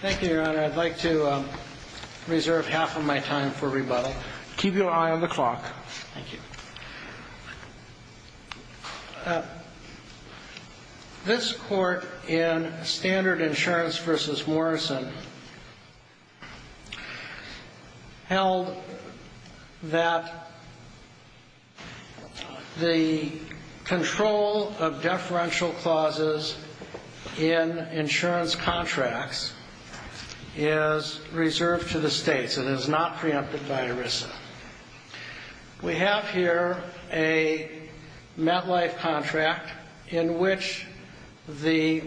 Thank you, Your Honor. I'd like to reserve half of my time for rebuttal. Keep your eye on the clock. Thank you. This Court in Standard Insurance v. Morrison held that the control of deferential clauses in insurance contracts is reserved to the states and is not preempted by ERISA. We have here a MetLife contract in which the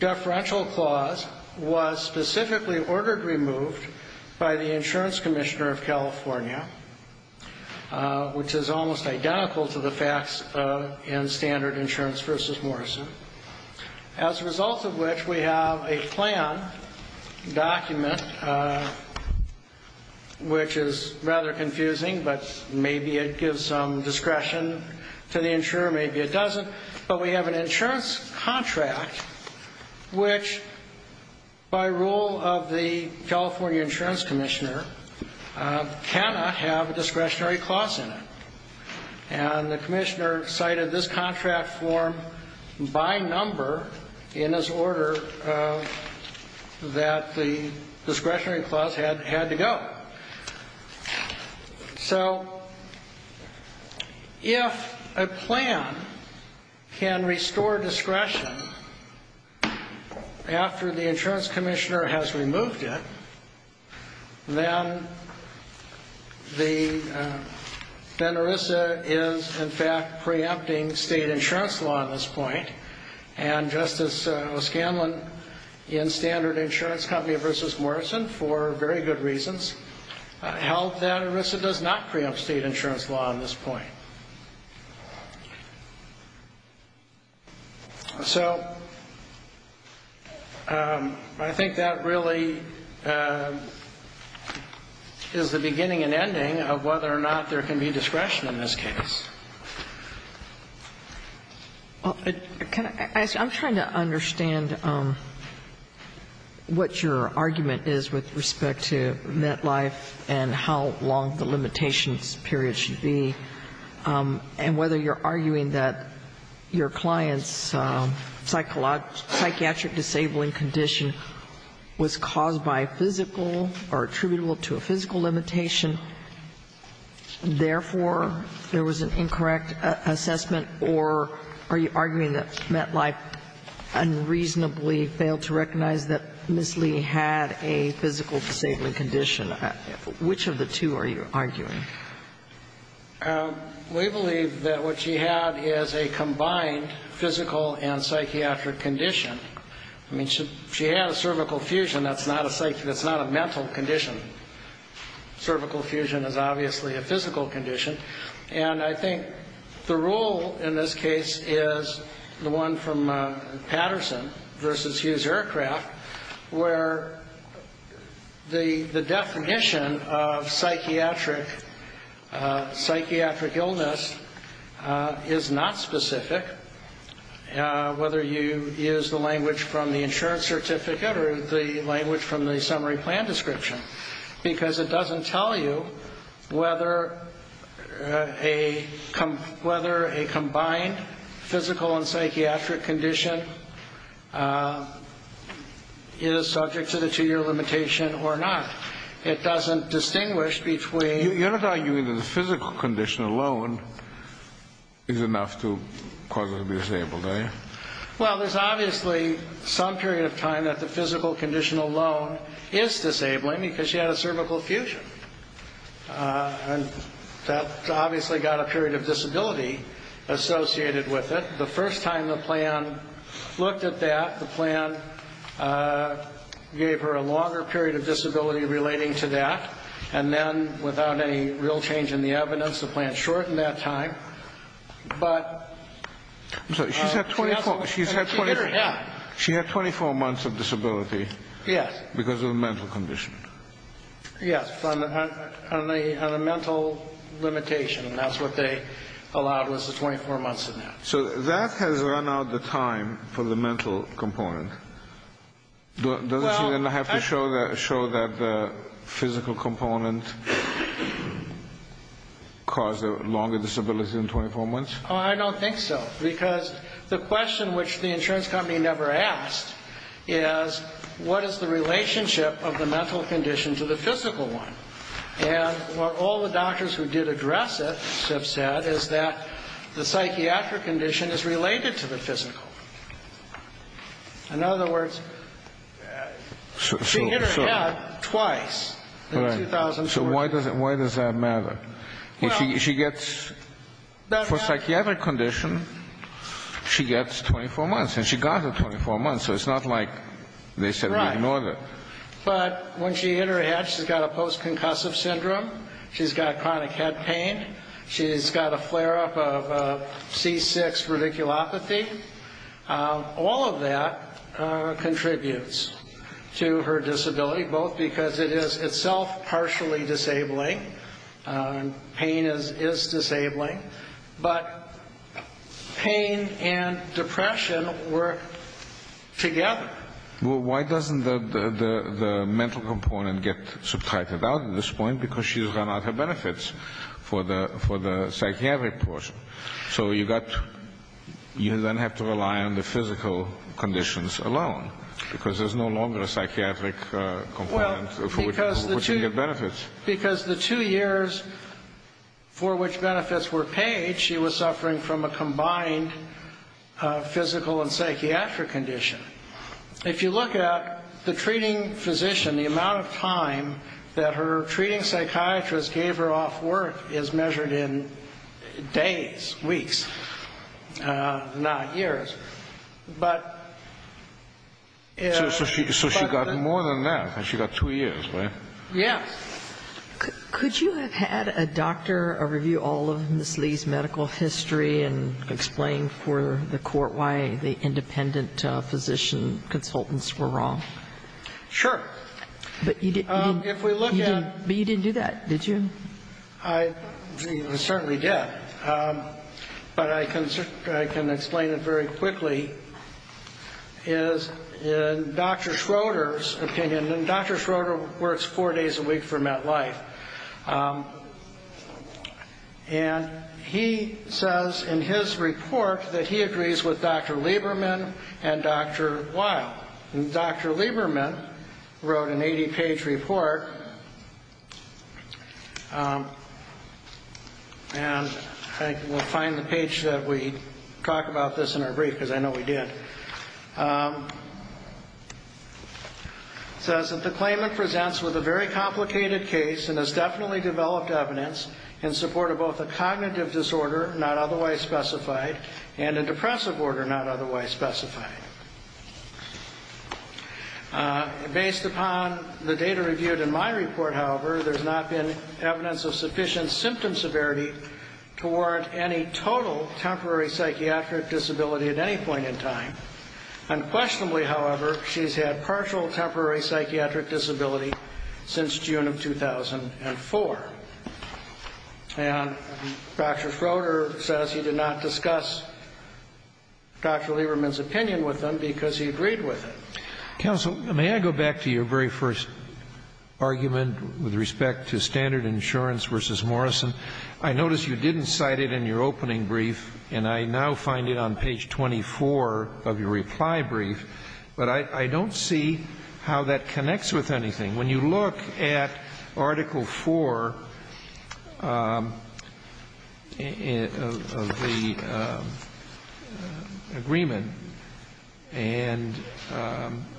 deferential clause was specifically ordered removed by the Insurance Commissioner of California, which is almost identical to the facts in Standard Insurance v. Morrison. As a result of which, we have a plan document, which is rather confusing, but maybe it gives some discretion to the insurer, maybe it doesn't. But we have an insurance contract which, by rule of the California Insurance Commissioner, cannot have a discretionary clause in it. And the Commissioner cited this contract form by number in his order that the discretionary clause had to go. So if a plan can restore discretion after the Insurance Commissioner has removed it, then ERISA is in fact preempting state insurance law at this point. And Justice O'Scanlan in Standard Insurance v. Morrison, for very good reasons, held that ERISA does not preempt state insurance law at this point. So I think that really is the beginning and ending of whether or not there can be discretion in this case. I'm trying to understand what your argument is with respect to MetLife and how long the limitations period should be, and whether you're arguing that your client's psychiatric disabling condition was caused by physical or attributable to a physical limitation, therefore, there was an incorrect assessment, or are you arguing that MetLife unreasonably failed to recognize that Ms. Lee had a physical disabling condition? Which of the two are you arguing? We believe that what she had is a combined physical and psychiatric condition. I mean, she had a cervical fusion. That's not a mental condition. Cervical fusion is obviously a physical condition. And I think the rule in this case is the one from Patterson v. Hughes Aircraft, where the definition of psychiatric illness is not specific, whether you use the language from the insurance certificate or the language from the summary plan description, because it doesn't tell you whether a combined physical and psychiatric condition is subject to the two-year limitation or not. It doesn't distinguish between the two. You're not arguing that the physical condition alone is enough to cause her to be disabled, are you? Well, there's obviously some period of time that the physical condition alone is disabling because she had a cervical fusion. And that obviously got a period of disability associated with it. The first time the plan looked at that, the plan gave her a longer period of disability relating to that. And then, without any real change in the evidence, the plan shortened that time. I'm sorry, she's had 24 months of disability because of a mental condition? Yes, on a mental limitation. And that's what they allowed was the 24 months of that. So that has run out the time for the mental component. Doesn't she then have to show that the physical component caused the longer disability in 24 months? I don't think so, because the question which the insurance company never asked is, what is the relationship of the mental condition to the physical one? And what all the doctors who did address it have said is that the psychiatric condition is related to the physical. In other words, she hit her head twice in 2004. So why does that matter? She gets, for a psychiatric condition, she gets 24 months. And she got her 24 months, so it's not like they said we ignored it. Right. But when she hit her head, she's got a post-concussive syndrome. She's got chronic head pain. She's got a flare-up of C6 radiculopathy. All of that contributes to her disability, both because it is itself partially disabling. Pain is disabling. But pain and depression work together. Well, why doesn't the mental component get subtracted out at this point? Because she's run out of benefits for the psychiatric portion. So you then have to rely on the physical conditions alone, because there's no longer a psychiatric component for which you can get benefits. Because the two years for which benefits were paid, she was suffering from a combined physical and psychiatric condition. If you look at the treating physician, the amount of time that her treating psychiatrist gave her off work is measured in days, weeks, not years. So she got more than that. She got two years, right? Yes. Could you have had a doctor review all of Ms. Lee's medical history and explain for the court why the independent physician consultants were wrong? Sure. But you didn't do that, did you? I certainly did. But I can explain it very quickly. In Dr. Schroeder's opinion, and Dr. Schroeder works four days a week for MetLife, and he says in his report that he agrees with Dr. Lieberman and Dr. Weil. And Dr. Lieberman wrote an 80-page report, and I think we'll find the page that we talk about this in our brief, because I know we did. It says that the claimant presents with a very complicated case and has definitely developed evidence in support of both a cognitive disorder, not otherwise specified, and a depressive order, not otherwise specified. Based upon the data reviewed in my report, however, there's not been evidence of sufficient symptom severity to warrant any total temporary psychiatric disability at any point in time. Unquestionably, however, she's had partial temporary psychiatric disability since June of 2004. And Dr. Schroeder says he did not discuss Dr. Lieberman's opinion with them because he agreed with them. Counsel, may I go back to your very first argument with respect to standard insurance versus Morrison? I notice you didn't cite it in your opening brief, and I now find it on page 24 of your reply brief, but I don't see how that connects with anything. When you look at Article IV of the agreement, and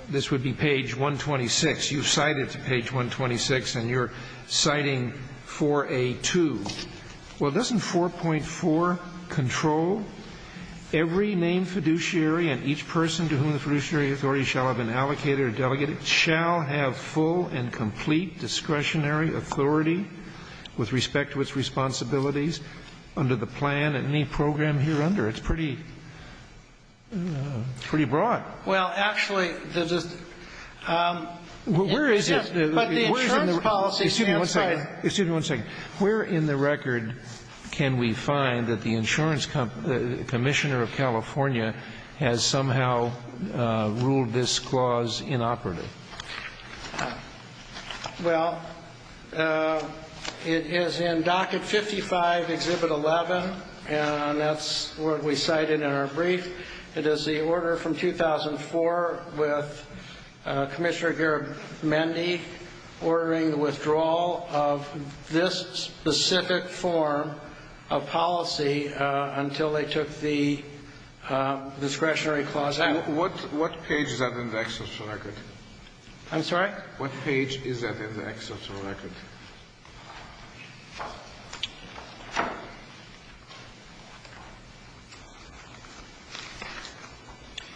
this would be page 126. You cite it to page 126, and you're citing 4A2. Well, doesn't 4.4 control every named fiduciary authority and each person to whom the fiduciary authority shall have an allocator or delegate shall have full and complete discretionary authority with respect to its responsibilities under the plan and any program hereunder? It's pretty broad. Well, actually, the just the insurance policy. Excuse me one second. Excuse me one second. I find that the insurance commissioner of California has somehow ruled this clause inoperative. Well, it is in Docket 55, Exhibit 11, and that's what we cited in our brief. It is the order from 2004 with Commissioner Garamendi ordering the withdrawal of this specific form of policy until they took the discretionary clause out. What page is that in the excelsior record? I'm sorry? What page is that in the excelsior record?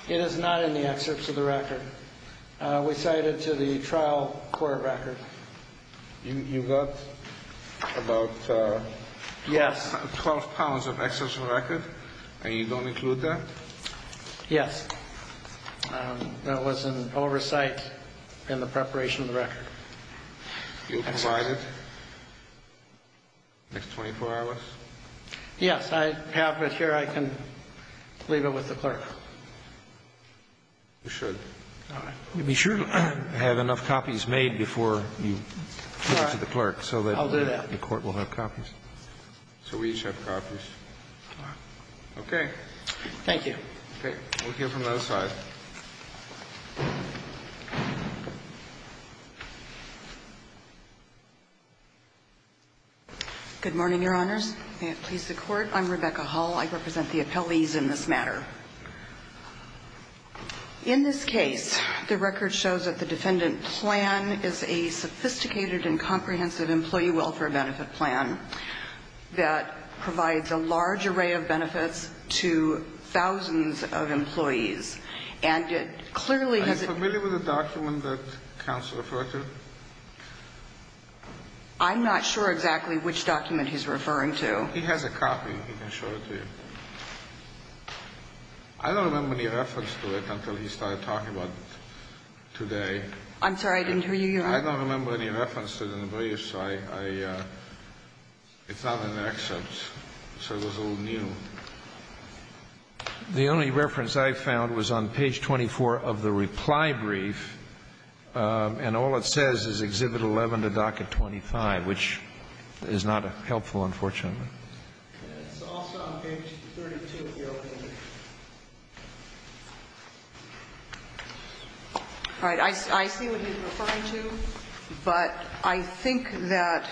It is not in the excelsior record. We cite it to the trial court record. You got about 12 pounds of excelsior record, and you don't include that? Yes. That was in oversight in the preparation of the record. You'll provide it next 24 hours? Yes. I have it here. I can leave it with the clerk. You should. All right. Be sure to have enough copies made before you give it to the clerk so that the court will have copies. I'll do that. So we each have copies. Okay. Thank you. Okay. We'll hear from those five. Good morning, Your Honors. May it please the Court. I'm Rebecca Hull. I represent the appellees in this matter. In this case, the record shows that the defendant plan is a sophisticated and comprehensive employee welfare benefit plan that provides a large array of benefits to thousands of employees. And it clearly has been ---- Are you familiar with the document that counsel referred to? I'm not sure exactly which document he's referring to. He has a copy. He can show it to you. I don't remember any reference to it until he started talking about it today. I'm sorry. I didn't hear you. I don't remember any reference to it in the brief, so I ---- it's not an excerpt, so it was all new. The only reference I found was on page 24 of the reply brief, and all it says is Exhibit 11 to Docket 25, which is not helpful, unfortunately. It's also on page 32 of the opening brief. All right. I see what he's referring to, but I think that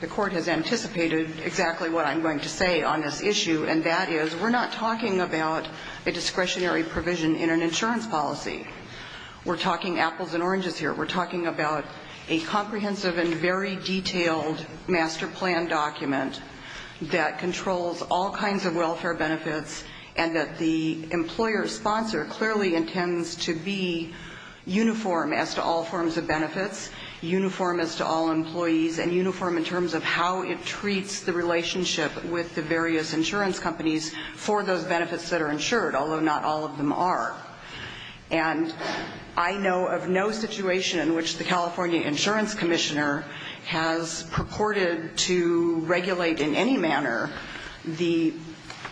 the court has anticipated exactly what I'm going to say on this issue, and that is we're not talking about a discretionary provision in an insurance policy. We're talking apples and oranges here. We're talking about a comprehensive and very detailed master plan document that controls all kinds of welfare benefits and that the employer sponsor clearly intends to be uniform as to all forms of benefits, uniform as to all employees, and uniform in terms of how it treats the relationship with the various insurance companies for those benefits that are insured, although not all of them are. And I know of no situation in which the California Insurance Commissioner has purported to regulate in any manner the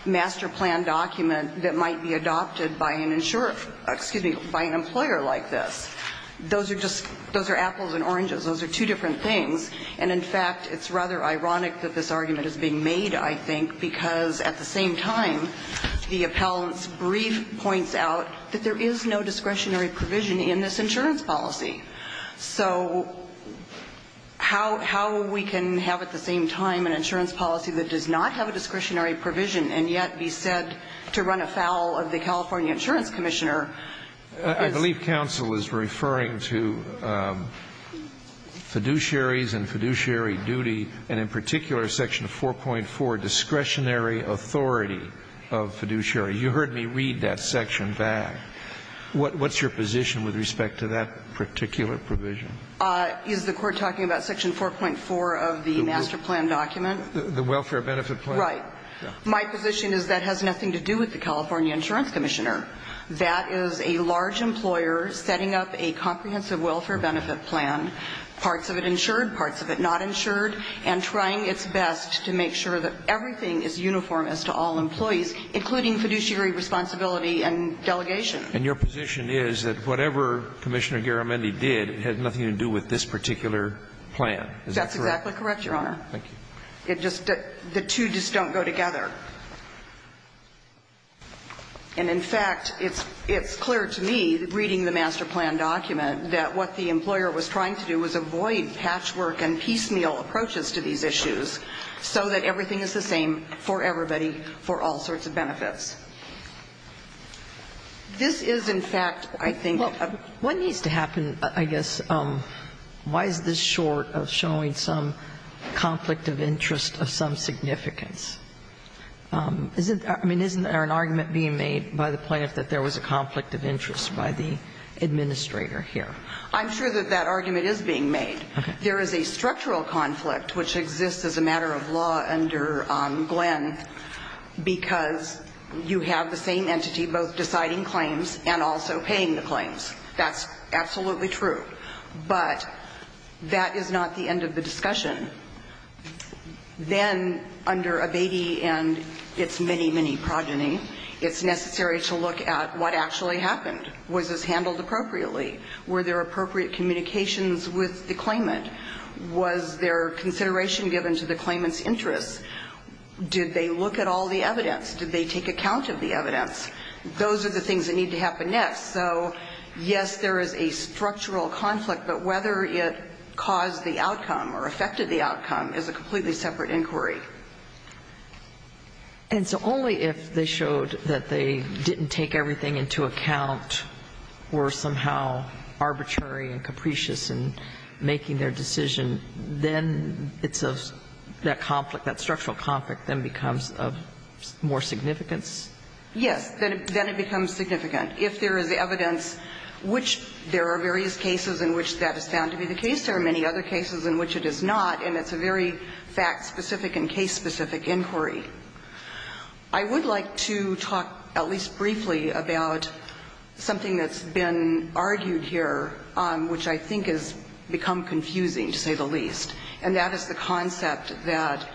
master plan document that might be adopted by an employer like this. Those are apples and oranges. Those are two different things. And, in fact, it's rather ironic that this argument is being made, I think, because at the same time the appellant's brief points out that there is no discretionary provision in this insurance policy. So how we can have at the same time an insurance policy that does not have a discretionary provision and yet be said to run afoul of the California Insurance Commissioner is... I believe counsel is referring to fiduciaries and fiduciary duty, and in particular Section 4.4, discretionary authority of fiduciary. You heard me read that section back. What's your position with respect to that particular provision? Is the Court talking about Section 4.4 of the master plan document? The welfare benefit plan? Right. My position is that has nothing to do with the California Insurance Commissioner. That is a large employer setting up a comprehensive welfare benefit plan, parts of it insured, parts of it not insured, and trying its best to make sure that everything is uniform as to all employees, including fiduciary responsibility and delegation. And your position is that whatever Commissioner Garamendi did, it had nothing to do with this particular plan. Is that correct? That's exactly correct, Your Honor. Thank you. It just, the two just don't go together. And in fact, it's clear to me reading the master plan document that what the employer was trying to do was avoid patchwork and piecemeal approaches to these issues so that everything is the same for everybody for all sorts of benefits. This is, in fact, I think a... Well, what needs to happen, I guess, why is this short of showing some conflict of interest of some significance? I mean, isn't there an argument being made by the plaintiff that there was a conflict of interest by the administrator here? I'm sure that that argument is being made. Okay. There is a structural conflict which exists as a matter of law under Glenn because you have the same entity both deciding claims and also paying the claims. That's absolutely true. But that is not the end of the discussion. Then under Abatey and its many, many progeny, it's necessary to look at what actually happened. Was this handled appropriately? Were there appropriate communications with the claimant? Was there consideration given to the claimant's interests? Did they look at all the evidence? Did they take account of the evidence? Those are the things that need to happen next. So, yes, there is a structural conflict, but whether it caused the outcome or affected the outcome is a completely separate inquiry. And so only if they showed that they didn't take everything into account or somehow arbitrary and capricious in making their decision, then it's a... Yes. Then it becomes significant. If there is evidence which there are various cases in which that is found to be the case, there are many other cases in which it is not, and it's a very fact-specific and case-specific inquiry. I would like to talk at least briefly about something that's been argued here, which I think has become confusing, to say the least, and that is the concept that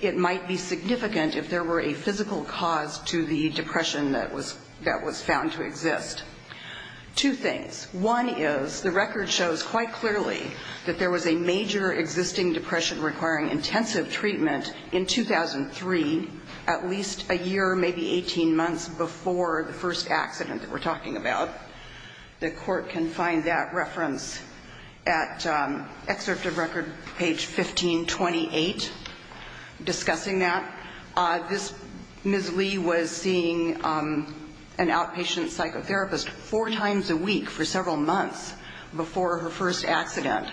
it might be significant if there were a physical cause to the depression that was found to exist. Two things. One is the record shows quite clearly that there was a major existing depression requiring intensive treatment in 2003, at least a year, maybe 18 months, before the first accident that we're talking about. The Court can find that reference at Excerpt of Record, page 1528, discussing that. This Ms. Lee was seeing an outpatient psychotherapist four times a week for several months before her first accident.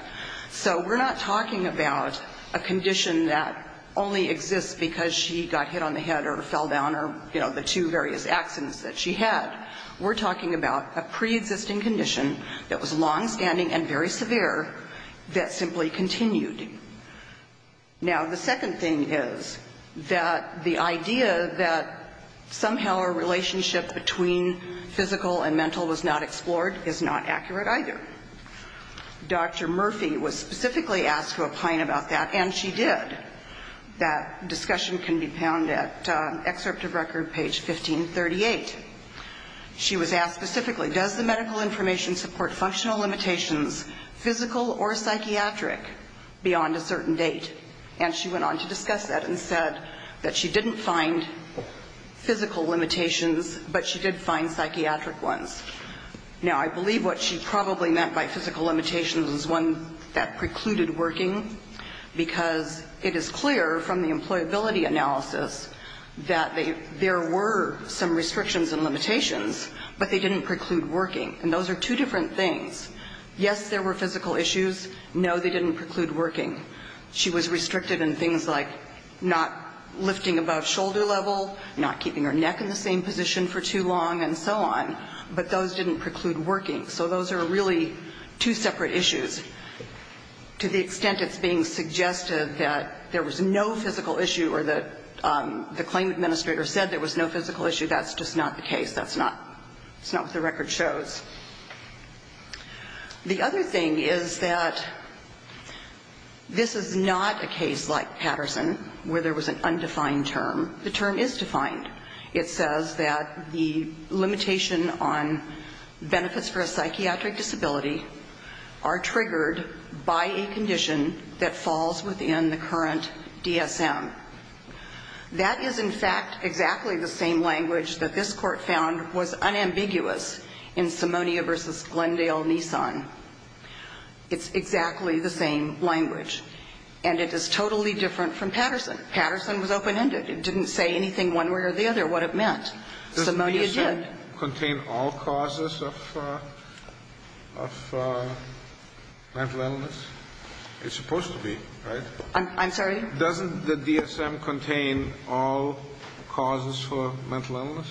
So we're not talking about a condition that only exists because she got hit on the head or fell down or, you know, the two various accidents that she had. We're talking about a preexisting condition that was longstanding and very severe that simply continued. Now, the second thing is that the idea that somehow a relationship between physical and mental was not explored is not accurate either. Dr. Murphy was specifically asked to opine about that, and she did. That discussion can be found at Excerpt of Record, page 1538. She was asked specifically, does the medical information support functional limitations, physical or psychiatric, beyond a certain date? And she went on to discuss that and said that she didn't find physical limitations, but she did find psychiatric ones. Now, I believe what she probably meant by physical limitations was one that precluded working, because it is clear from the employability analysis that there were some restrictions and limitations, but they didn't preclude working. And those are two different things. Yes, there were physical issues. No, they didn't preclude working. She was restricted in things like not lifting above shoulder level, not keeping her neck in the same position for too long, and so on. But those didn't preclude working. So those are really two separate issues. To the extent it's being suggested that there was no physical issue or that the claim administrator said there was no physical issue, that's just not the case. That's not what the record shows. The other thing is that this is not a case like Patterson, where there was an undefined term. The term is defined. It says that the limitation on benefits for a psychiatric disability are triggered by a condition that falls within the current DSM. That is, in fact, exactly the same language that this Court found was unambiguous in Simonia v. Glendale-Nissan. It's exactly the same language. And it is totally different from Patterson. Patterson was open-ended. It didn't say anything one way or the other what it meant. Simonia did. Does DSM contain all causes of mental illness? It's supposed to be, right? I'm sorry? Doesn't the DSM contain all causes for mental illness?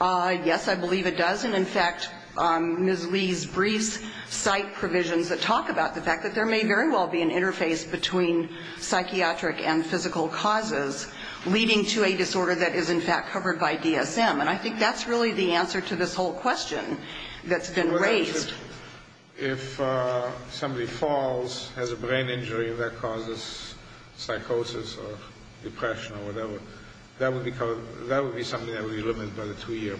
Yes, I believe it does. And, in fact, Ms. Lee's briefs cite provisions that talk about the fact that there may very well be an interface between psychiatric and physical causes, leading to a disorder that is, in fact, covered by DSM. And I think that's really the answer to this whole question that's been raised. If somebody falls, has a brain injury that causes psychosis or depression or whatever, that would be something that would be limited by the two-year.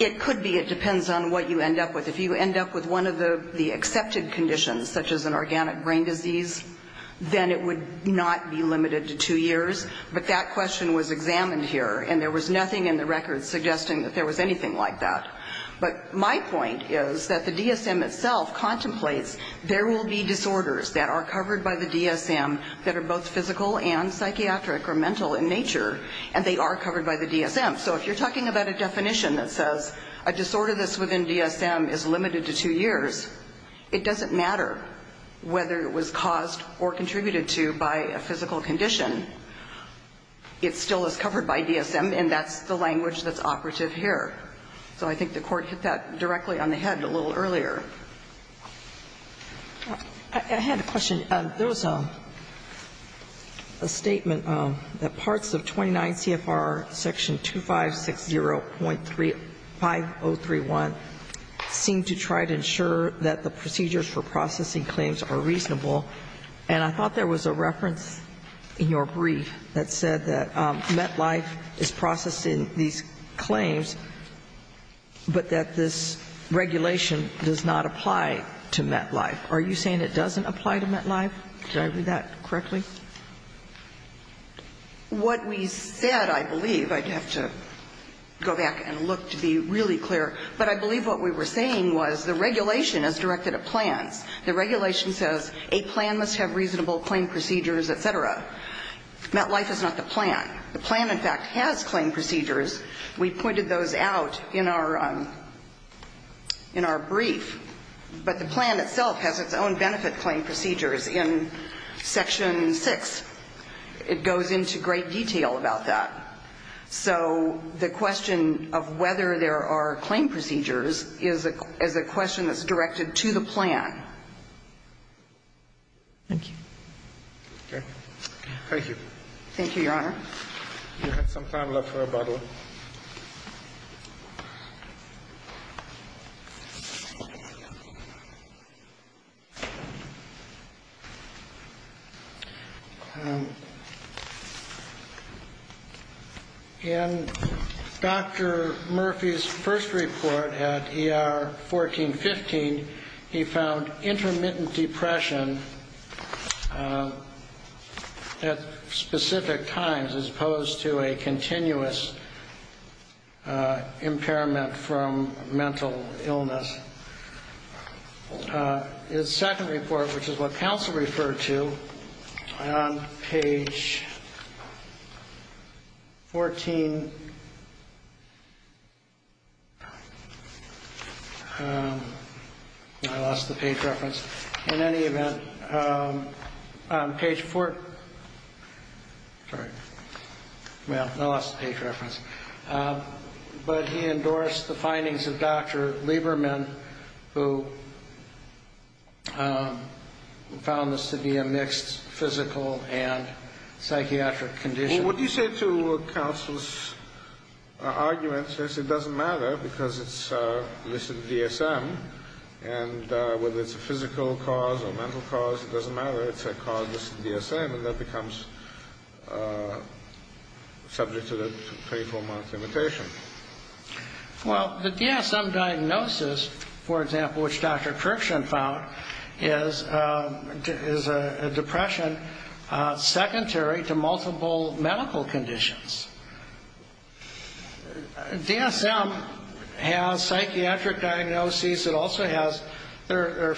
It could be. It depends on what you end up with. If you end up with one of the accepted conditions, such as an organic brain disease, then it would not be limited to two years. But that question was examined here, and there was nothing in the records suggesting that there was anything like that. But my point is that the DSM itself contemplates there will be disorders that are covered by the DSM that are both physical and psychiatric or mental in nature, and they are covered by the DSM. So if you're talking about a definition that says a disorder that's within DSM is limited to two years, it doesn't matter whether it was caused or contributed to by a physical condition. It still is covered by DSM, and that's the language that's operative here. So I think the Court hit that directly on the head a little earlier. I had a question. There was a statement that parts of 29 CFR section 2560.5031 seem to try to ensure that the procedures for processing claims are reasonable. And I thought there was a reference in your brief that said that MetLife is processing these claims, but that this regulation does not apply to MetLife. Are you saying it doesn't apply to MetLife? Did I read that correctly? What we said, I believe, I'd have to go back and look to be really clear, but I believe what we were saying was the regulation is directed at plans. The regulation says a plan must have reasonable claim procedures, et cetera. MetLife is not the plan. The plan, in fact, has claim procedures. We pointed those out in our brief. But the plan itself has its own benefit claim procedures in section 6. It goes into great detail about that. So the question of whether there are claim procedures is a question that's directed to the plan. Thank you. Okay. Thank you. Thank you, Your Honor. You have some time left for rebuttal. In Dr. Murphy's first report at ER 1415, he found intermittent depression at specific times as opposed to a continuous impairment from mental illness. His second report, which is what counsel referred to on page 14, I lost the page reference. But he endorsed the findings of Dr. Lieberman, who found this to be a mixed physical and psychiatric condition. What do you say to counsel's argument that it doesn't matter because it's listed DSM, and whether it's a physical cause or mental cause, it doesn't matter. It's a cause that's DSM, and that becomes subject to the 24-month limitation? Well, the DSM diagnosis, for example, which Dr. Kirkson found, is a depression secondary to multiple medical conditions. DSM has psychiatric diagnoses. It also has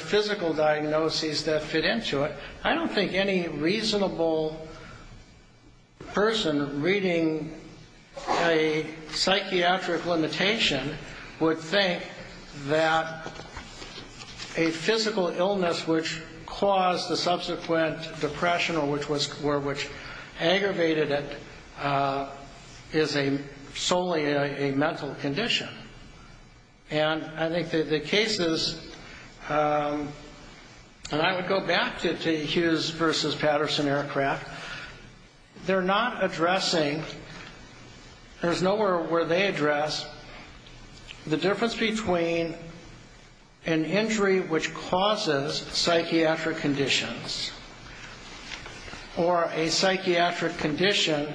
physical diagnoses that fit into it. I don't think any reasonable person reading a psychiatric limitation would think that a physical illness which caused the subsequent depression or which aggravated it is solely a mental condition. And I think that the cases, and I would go back to Hughes v. Patterson Aircraft, they're not addressing, there's nowhere where they address the difference between an injury which causes psychiatric conditions or a psychiatric condition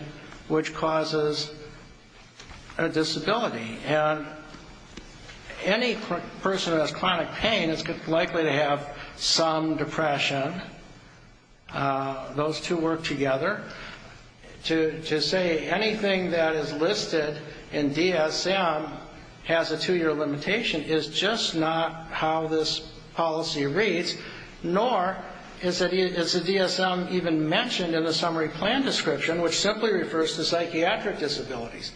which causes a disability. And any person who has chronic pain is likely to have some depression. Those two work together. To say anything that is listed in DSM has a two-year limitation is just not how this policy reads, nor is the DSM even mentioned in the summary plan description, which simply refers to psychiatric disabilities.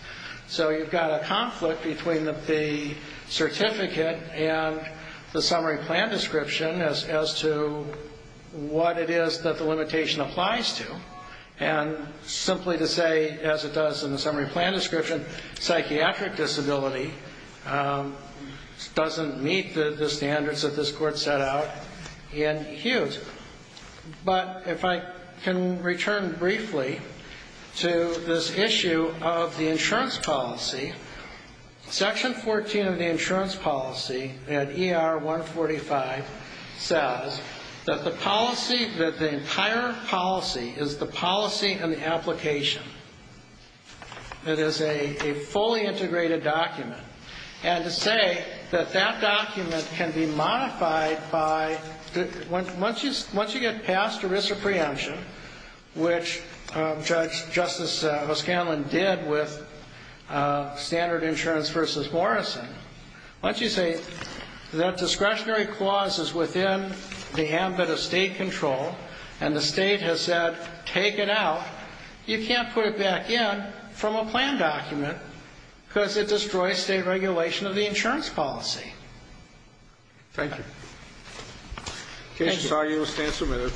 So you've got a conflict between the certificate and the summary plan description as to what it is that the limitation applies to. And simply to say, as it does in the summary plan description, psychiatric disability doesn't meet the standards that this court set out in Hughes. But if I can return briefly to this issue of the insurance policy, Section 14 of the insurance policy at ER 145 says that the policy, that the entire policy is the policy and the application. It is a fully integrated document. And to say that that document can be modified by, once you get past the risk of preemption, which Justice O'Scanlan did with standard insurance versus Morrison, once you say that discretionary clause is within the ambit of state control and the state has said, take it out, you can't put it back in from a plan document because it destroys state regulation of the insurance policy. Thank you. The case is argued and stands submitted.